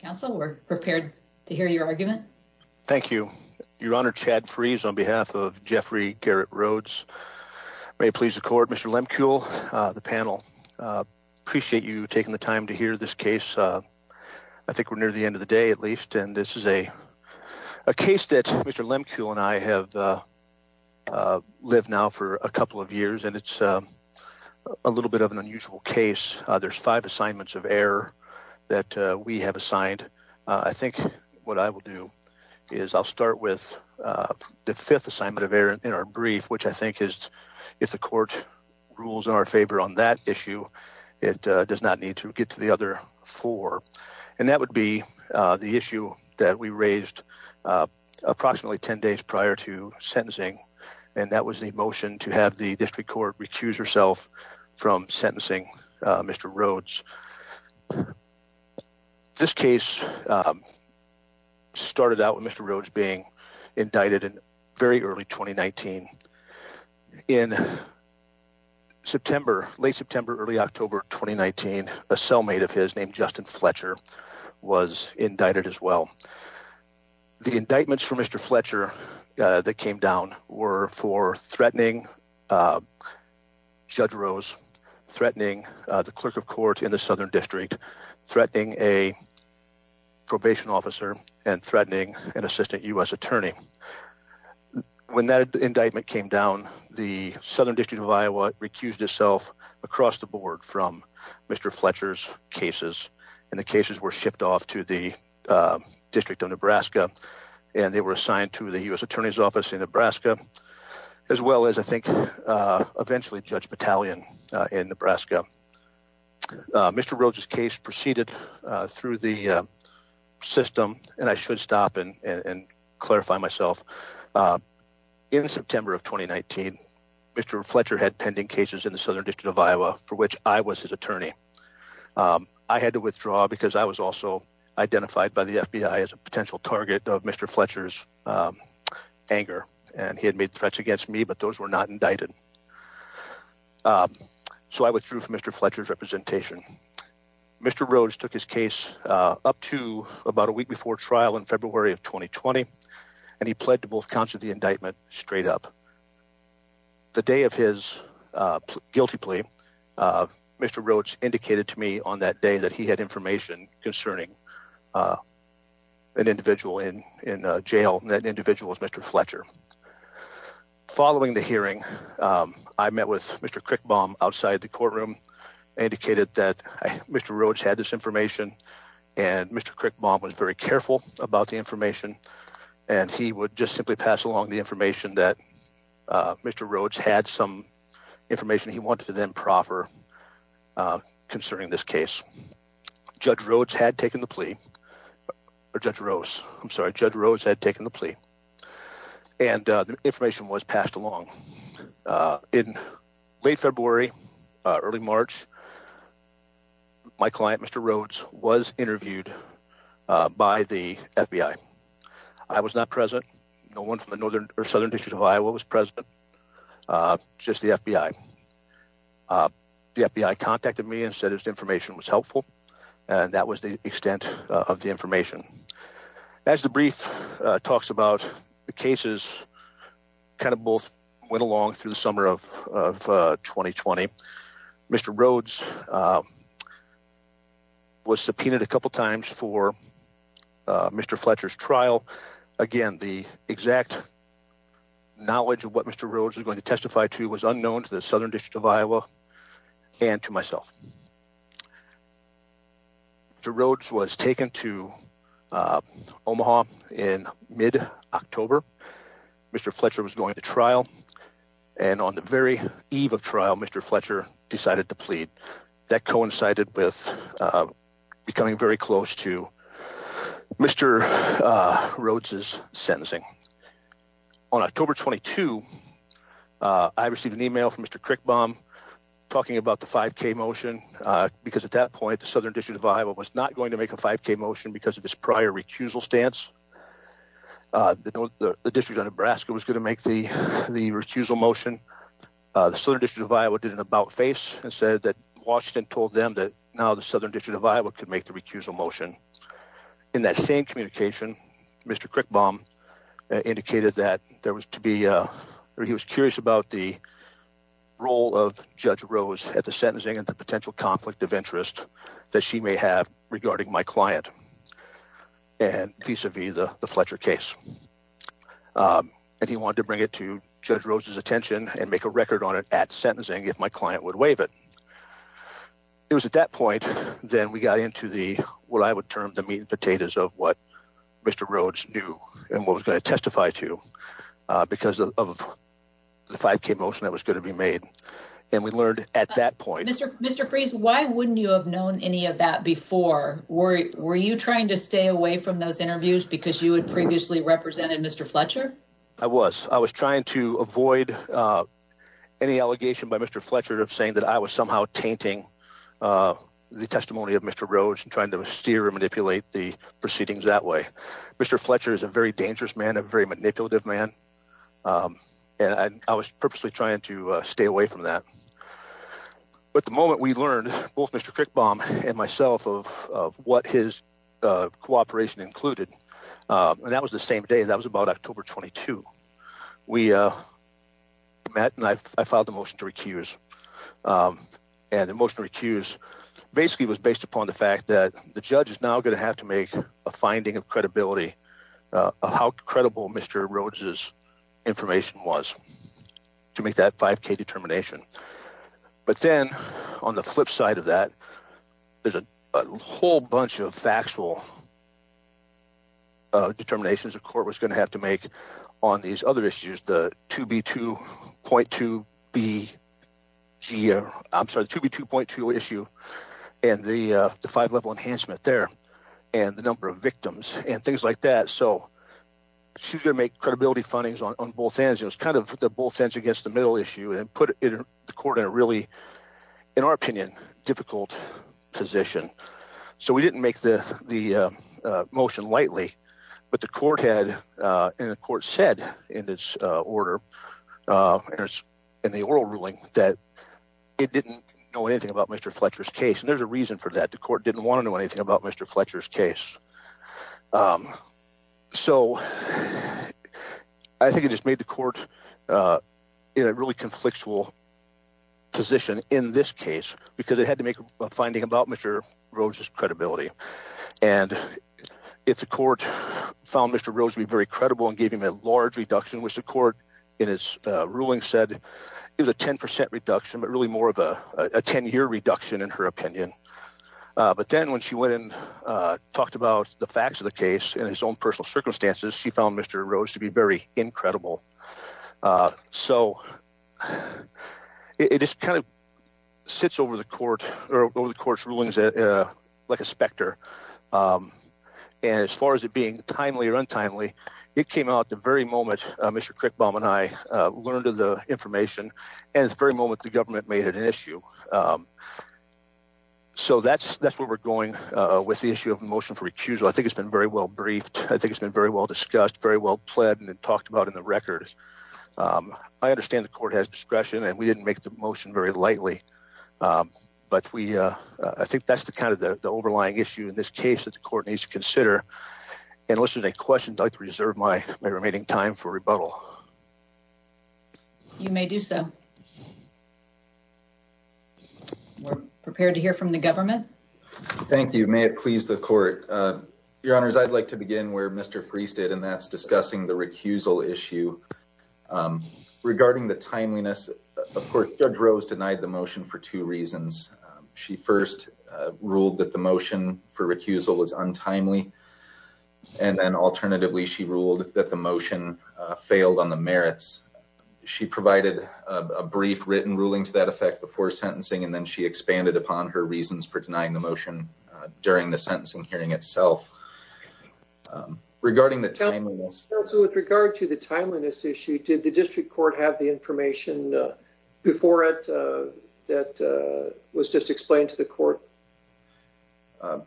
Councilor prepared to hear your argument. Thank you. Your honor. Chad freeze on behalf of Jeffrey Garrett roads. May please record Mr. Lemke, all the panel appreciate you taking the time to hear this case. We're near the end of the day at least. And this is a case that Mr. Lemke and I have lived now for a couple of years and it's a little bit of an unusual case. There's five assignments of air that we have assigned. I think what I will do is I'll start with the fifth assignment of air in our brief, which I think is if the court rules in our favor on that issue. It does not need to get to the other four. And that would be the issue that we raised approximately 10 days prior to sentencing. And that was the motion to have the district court recuse herself from sentencing Mr. Rhodes. This case started out with Mr. Rhodes being indicted in very early 2019 in September, late September, early October, 2019, a cellmate of his name, Justin Fletcher was indicted as well. The indictments for Mr. Fletcher that came down were for threatening judge Rose threatening the clerk of court in the Southern district, threatening a probation officer and threatening an assistant us attorney. When that indictment came down, the Southern district of Iowa recused itself across the board from Mr. Fletcher's cases and the cases were shipped off to the district of Nebraska and they were assigned to the U.S. Attorney's office in Nebraska, as well as I think eventually judge battalion in Nebraska. Mr. Rose's case proceeded through the system and I should stop and clarify myself in September of 2019 Mr. Fletcher had pending cases in the Southern district of Iowa for which I was his attorney. I had to withdraw because I was also identified by the FBI as a potential target of Mr. Fletcher's anger and he had made threats against me, but those were not indicted. So I withdrew from Mr. Fletcher's representation. Mr. Rose took his case up to about a week before trial in February of 2020 and he pled to both counts of the indictment straight up. The day of his guilty plea, Mr. Rhodes indicated to me on that day that he had information concerning an individual in jail, that individual was Mr. Fletcher. Following the hearing, I met with Mr. Crickbaum outside the courtroom, indicated that Mr. Rhodes had this information and Mr. Crickbaum was very careful about the information. And he would just simply pass along the information that Mr. Rhodes had some information he wanted to then proffer concerning this case. Judge Rhodes had taken the plea, or Judge Rose, I'm sorry, Judge Rhodes had taken the plea and the information was passed along. In late February, early March, my client Mr. Rhodes was interviewed by the FBI. I was not present, no one from the Northern or Southern district of Iowa was present, just the FBI. The FBI contacted me and said his information was helpful and that was the extent of the information. As the brief talks about the cases kind of both went along through the summer of 2020, Mr. Rhodes was subpoenaed a couple of times for Mr. Fletcher's trial. Again, the exact knowledge of what Mr. Rhodes was going to testify to was unknown to the Southern district of Iowa and to myself. Mr. Rhodes was taken to Omaha in mid October. Mr. Fletcher was going to trial and on the very eve of trial, Mr. Fletcher decided to plead. That coincided with becoming very close to Mr. Rhodes's sentencing. On October 22, I received an email from Mr. Crickbaum talking about the 5K motion, because at that point, the Southern district of Iowa was not going to make a 5K motion because of his prior recusal stance. The district of Nebraska was going to make the recusal motion. The Southern district of Iowa did an about face and said that Washington told them that now the Southern district of Iowa could make the recusal motion. In that same communication, Mr. Crickbaum indicated that he was curious about the role of Judge Rose at the sentencing and the potential conflict of interest that she may have regarding my client, and vis-a-vis the Fletcher case. He wanted to bring it to Judge Rose's attention and make a record on it at sentencing if my client would waive it. It was at that point that we got into what I would term the meat and potatoes of what Mr. Rhodes knew and what he was going to testify to because of the 5K motion that was going to be made. Why wouldn't you have known any of that before? Were you trying to stay away from those interviews because you had previously represented Mr. Fletcher? I was. I was trying to avoid any allegation by Mr. Fletcher of saying that I was somehow tainting the testimony of Mr. Rhodes and trying to steer or manipulate the proceedings that way. Mr. Fletcher is a very dangerous man, a very manipulative man. And I was purposely trying to stay away from that. But the moment we learned, both Mr. Crickbaum and myself, of what his cooperation included, and that was the same day, that was about October 22, we met and I filed a motion to recuse. And the motion to recuse basically was based upon the fact that the judge is now going to have to make a finding of credibility of how credible Mr. Rhodes' information was to make that 5K determination. But then on the flip side of that, there's a whole bunch of factual determinations the court was going to have to make on these other issues, the 2B2.2 issue and the five-level enhancement there and the number of victims and things like that. So she's going to make credibility findings on both ends. It was kind of the both ends against the middle issue and put the court in a really, in our opinion, difficult position. So we didn't make the motion lightly. But the court had, and the court said in its order, in the oral ruling, that it didn't know anything about Mr. Fletcher's case. And there's a reason for that. The court didn't want to know anything about Mr. Fletcher's case. So I think it just made the court in a really conflictual position in this case because it had to make a finding about Mr. Rhodes' credibility. And the court found Mr. Rhodes to be very credible and gave him a large reduction, which the court in its ruling said it was a 10% reduction, but really more of a 10-year reduction in her opinion. But then when she went and talked about the facts of the case in his own personal circumstances, she found Mr. Rhodes to be very incredible. So it just kind of sits over the court or over the court's rulings like a specter. And as far as it being timely or untimely, it came out the very moment Mr. Crickbaum and I learned of the information and the very moment the government made it an issue. So that's where we're going with the issue of motion for recusal. I think it's been very well briefed. I think it's been very well discussed, very well pled and talked about in the records. I understand the court has discretion and we didn't make the motion very lightly, but I think that's the kind of the overlying issue in this case that the court needs to consider. And unless there's any questions, I'd like to reserve my remaining time for rebuttal. You may do so. We're prepared to hear from the government. Thank you. May it please the court. Your Honors, I'd like to begin where Mr. Friest did and that's discussing the recusal issue. Regarding the timeliness, of course, Judge Rose denied the motion for two reasons. She first ruled that the motion for recusal was untimely. And then alternatively, she ruled that the motion failed on the merits. She provided a brief written ruling to that effect before sentencing. And then she expanded upon her reasons for denying the motion during the sentencing hearing itself. Regarding the timeliness... Counsel, with regard to the timeliness issue, did the district court have the information before it that was just explained to the court?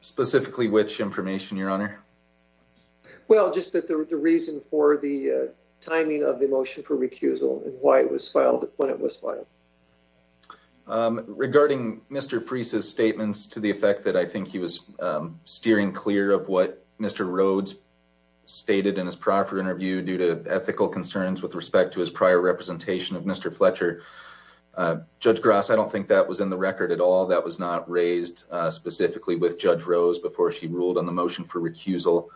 Specifically which information, Your Honor? Well, just that the reason for the timing of the motion for recusal and why it was filed when it was filed. Regarding Mr. Friest's statements to the effect that I think he was steering clear of what Mr. Rhodes stated in his prior interview due to ethical concerns with respect to his prior representation of Mr. Fletcher. Judge Gross, I don't think that was in the record at all. That was not raised specifically with Judge Rose before she ruled on the motion for recusal.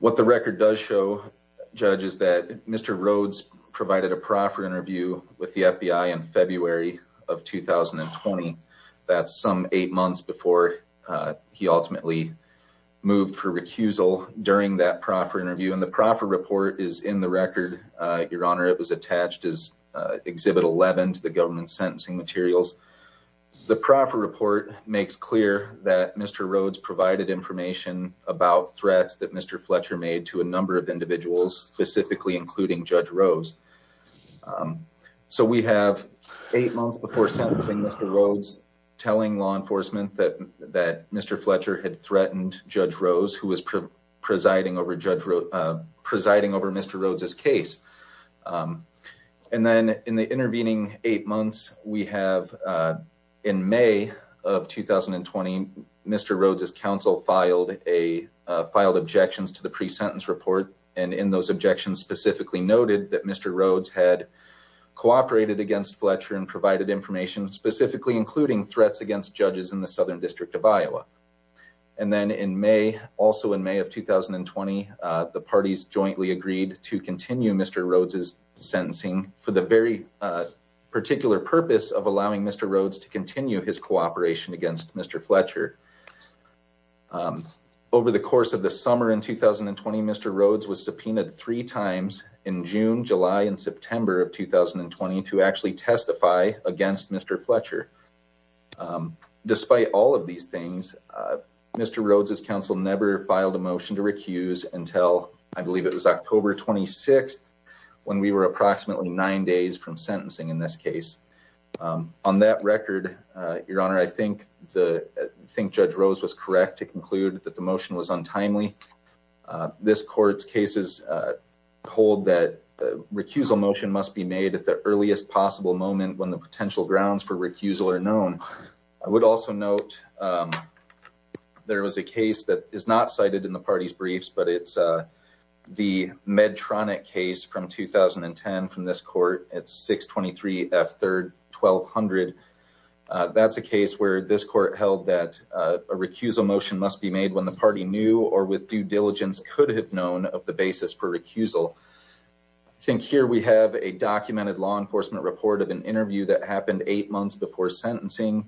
What the record does show, Judge, is that Mr. Rhodes provided a proffer interview with the FBI in February of 2020. That's some eight months before he ultimately moved for recusal during that proffer interview. And the proffer report is in the record, Your Honor. This is Exhibit 11 to the government's sentencing materials. The proffer report makes clear that Mr. Rhodes provided information about threats that Mr. Fletcher made to a number of individuals, specifically including Judge Rose. So we have eight months before sentencing Mr. Rhodes telling law enforcement that Mr. Fletcher had threatened Judge Rose who was presiding over Mr. Rhodes' case. And then in the intervening eight months, we have in May of 2020, Mr. Rhodes' counsel filed objections to the pre-sentence report. And in those objections specifically noted that Mr. Rhodes had cooperated against Fletcher and provided information specifically including threats against judges in the Southern District of Iowa. And then in May, also in May of 2020, the parties jointly agreed to continue Mr. Rhodes' sentencing for the very particular purpose of allowing Mr. Rhodes to continue his cooperation against Mr. Fletcher. Over the course of the summer in 2020, Mr. Rhodes was subpoenaed three times in June, July, and September of 2020 to actually testify against Mr. Fletcher. Despite all of these things, Mr. Rhodes' counsel never filed a motion to recuse until I believe it was October 26th when we were approximately nine days from sentencing in this case. On that record, Your Honor, I think Judge Rose was correct to conclude that the motion was untimely. This court's cases hold that a recusal motion must be made at the earliest possible moment when the potential grounds for recusal are known. I would also note there was a case that is not cited in the party's briefs, but it's the Medtronic case from 2010 from this court at 623 F. 3rd, 1200. That's a case where this court held that a recusal motion must be made when the party knew or with due diligence could have known of the basis for recusal. I think here we have a documented law enforcement report of an interview that happened eight months before sentencing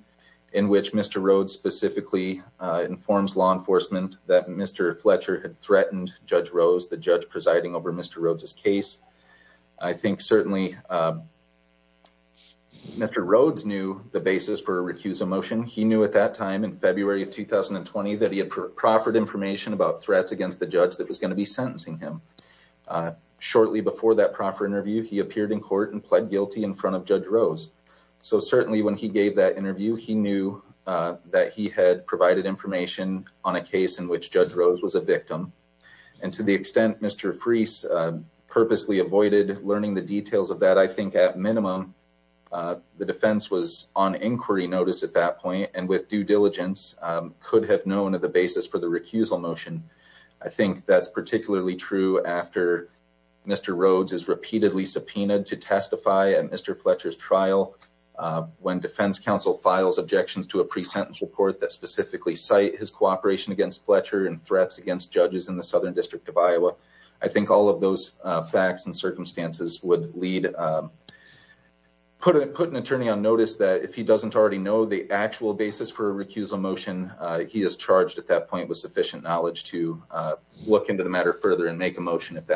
in which Mr. Rhodes specifically informs law enforcement that Mr. Fletcher had threatened Judge Rose, the judge presiding over Mr. Rhodes' case. I think certainly Mr. Rhodes knew the basis for a recusal motion. He knew at that time in February of 2020 that he had proffered information about threats against the judge that was going to be sentencing him. Shortly before that proffer interview, he appeared in court and pled guilty in front of Judge Rose. So certainly when he gave that interview, he knew that he had provided information on a case in which Judge Rose was a victim. And to the extent Mr. Freese purposely avoided learning the details of that, I think at minimum the defense was on inquiry notice at that point and with due diligence could have known of the basis for the recusal motion. I think that's particularly true after Mr. Rhodes is repeatedly subpoenaed to testify at Mr. Fletcher's trial. When defense counsel files objections to a pre-sentence report that specifically cite his cooperation against Fletcher and threats against judges in the Southern District of Iowa, I think all of those facts and circumstances would put an attorney on notice that if he doesn't already know the actual basis for a recusal motion, he is charged at that point with sufficient knowledge to look into the matter further and make a motion if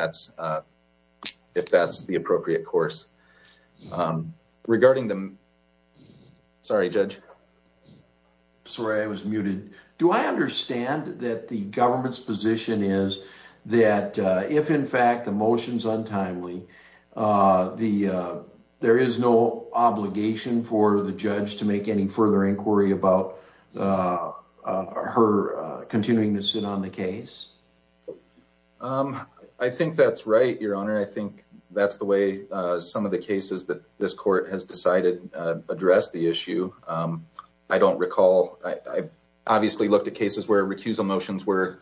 that's the appropriate course. Regarding the... Sorry, Judge. Sorry, I was muted. Do I understand that the government's position is that if in fact the motion is untimely, there is no obligation for the judge to make any further inquiry about her continuing to sit on the case? I think that's right, Your Honor. I think that's the way some of the cases that this court has decided address the issue. I don't recall. I've obviously looked at cases where recusal motions were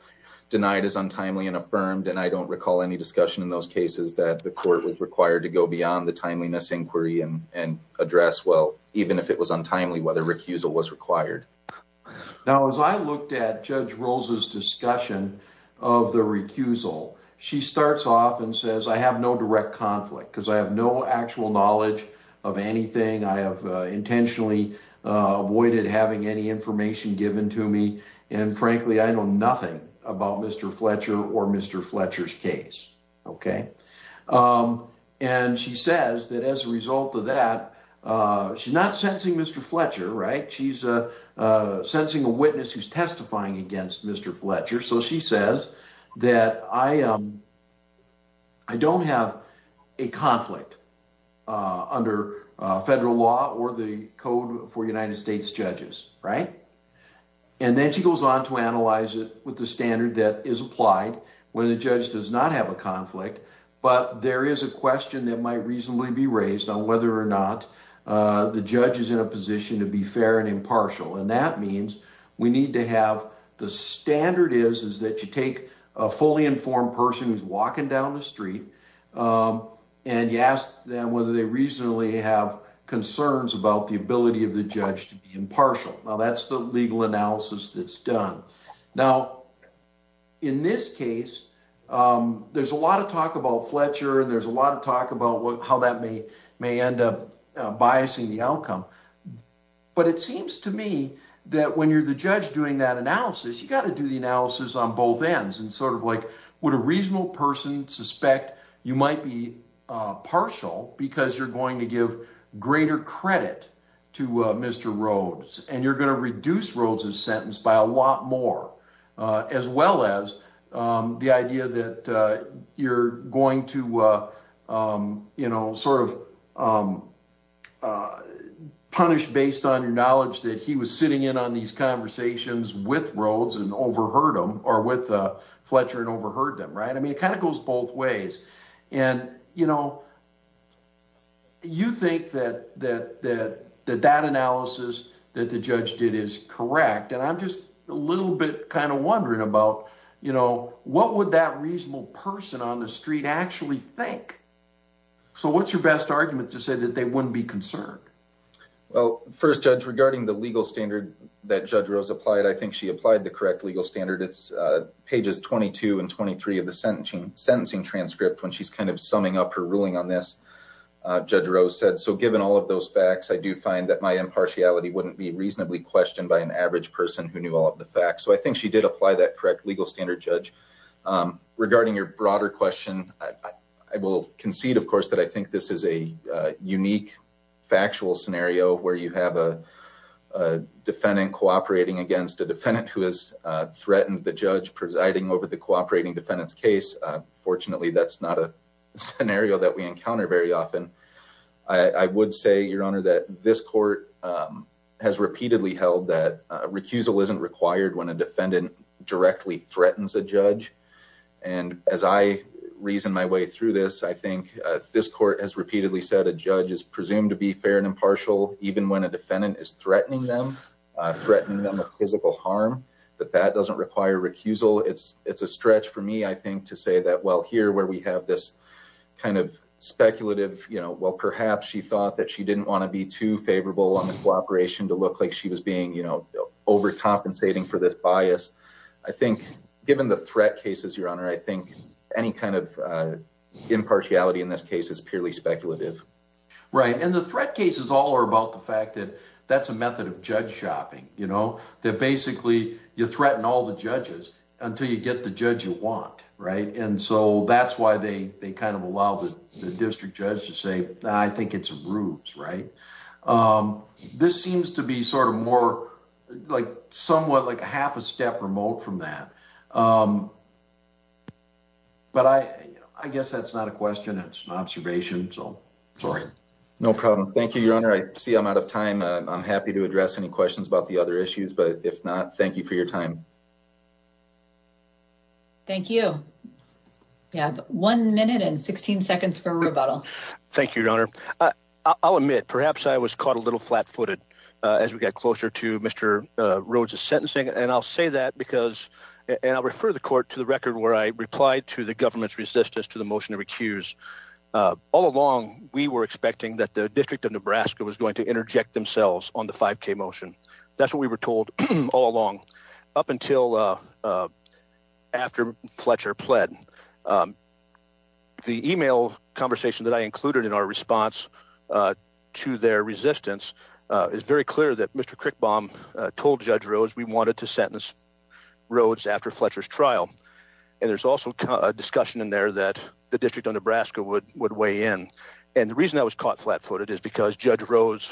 denied as untimely and affirmed, and I don't recall any discussion in those cases that the court was required to go beyond the timeliness inquiry and address, well, even if it was untimely, whether recusal was required. Now, as I looked at Judge Rose's discussion of the recusal, she starts off and says, I have no direct conflict because I have no actual knowledge of anything. I have intentionally avoided having any information given to me. And frankly, I know nothing about Mr. Fletcher or Mr. Fletcher's case. Okay. And she says that as a result of that, she's not sentencing Mr. Fletcher, right? She's sentencing a witness who's testifying against Mr. Fletcher. So she says that I don't have a conflict under federal law or the code for United States judges, right? And then she goes on to analyze it with the standard that is applied when a judge does not have a conflict, but there is a question that might reasonably be raised on whether or not the judge is in a position to be fair and impartial. And that means we need to have, the standard is, is that you take a fully informed person who's walking down the street and you ask them whether they reasonably have concerns about the ability of the judge to be impartial. Now, that's the legal analysis that's done. Now, in this case, there's a lot of talk about Fletcher and there's a lot of talk about how that may end up biasing the outcome. But it seems to me that when you're the judge doing that analysis, you got to do the analysis on both ends and sort of like, would a reasonable person suspect you might be partial because you're going to give greater credit to Mr. Rhodes and you're going to reduce Rhodes's sentence by a lot more, as well as the idea that you're going to, you know, sort of punish based on your knowledge that he was sitting in on these conversations with Rhodes and overheard them or with Fletcher and overheard them, right? I mean, it kind of goes both ways. And, you know, you think that that analysis that the judge did is correct. And I'm just a little bit kind of wondering about, you know, what would that reasonable person on the street actually think? So what's your best argument to say that they wouldn't be concerned? Well, first, Judge, regarding the legal standard that Judge Rhodes applied, I think she applied the correct legal standard. It's pages 22 and 23 of the sentencing transcript when she's kind of summing up her ruling on this, Judge Rhodes said, so given all of those facts, I do find that my impartiality wouldn't be reasonably questioned by an average person who knew all of the facts. So I think she did apply that correct legal standard, Judge. Regarding your broader question, I will concede, of course, that I think this is a unique factual scenario where you have a defendant cooperating against a defendant who has threatened the judge presiding over the cooperating defendant's case. Fortunately, that's not a scenario that we encounter very often. I would say, Your Honor, that this court has repeatedly held that recusal isn't required when a defendant directly threatens a judge. And as I reason my way through this, I think this court has repeatedly said a judge is presumed to be fair and impartial even when a defendant is threatening them, threatening them of physical harm, that that doesn't require recusal. It's a stretch for me, I think, to say that, well, here, where we have this kind of speculative, you know, well, perhaps she thought that she didn't want to be too favorable on the cooperation to look like she was being, you know, overcompensating for this bias. I think, given the threat cases, Your Honor, I think any kind of impartiality in this case is purely speculative. Right. And the threat cases all are about the fact that that's a method of judge shopping, you know, that basically you threaten all the judges until you get the judge you want, right? And so that's why they kind of allow the district judge to say, I think it's a ruse, right? This seems to be sort of more like somewhat like a half a step remote from that. But I guess that's not a question. It's an observation. So sorry. No problem. Thank you, Your Honor. I see I'm out of time. I'm happy to address any questions about the other issues, but if not, thank you for your time. Thank you. Yeah. One minute and 16 seconds for rebuttal. Thank you, Your Honor. I'll admit, perhaps I was caught a little flat footed as we got closer to Mr. Rhodes's sentencing. And I'll say that because, and I'll refer the court to the record where I replied to the government's resistance to the motion to recuse. All along, we were expecting that the district of Nebraska was going to interject themselves on the 5K motion. That's what we were told all along. Up until after Fletcher pled. The email conversation that I included in our response to their resistance is very clear that Mr. Crickbaum told Judge Rhodes we wanted to sentence Rhodes after Fletcher's trial. And there's also a discussion in there that the district of Nebraska would weigh in. And the reason I was caught flat footed is because Judge Rhodes,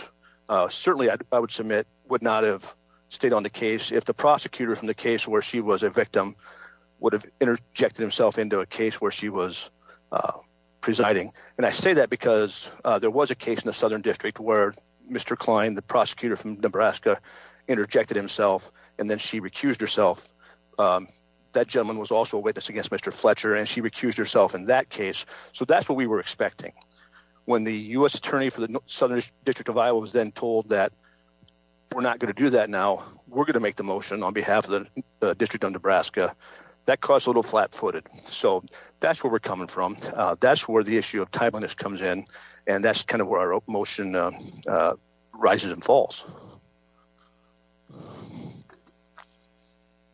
certainly I would submit, would not have stayed on the case if the prosecutor from the case where she was a victim would have interjected himself into a case where she was presiding. And I say that because there was a case in the Southern District where Mr. Klein, the prosecutor from Nebraska, interjected himself and then she recused herself. That gentleman was also a witness against Mr. Fletcher and she recused herself in that case. When the U.S. attorney for the Southern District of Iowa was then told that we're not gonna do that now, we're gonna make the motion on behalf of the District of Nebraska, that caused a little flat footed. So that's where we're coming from. That's where the issue of timeliness comes in. And that's kind of where our motion rises and falls.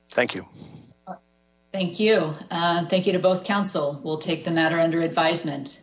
Thank you. Thank you. Thank you to both council. We'll take the matter under advisement.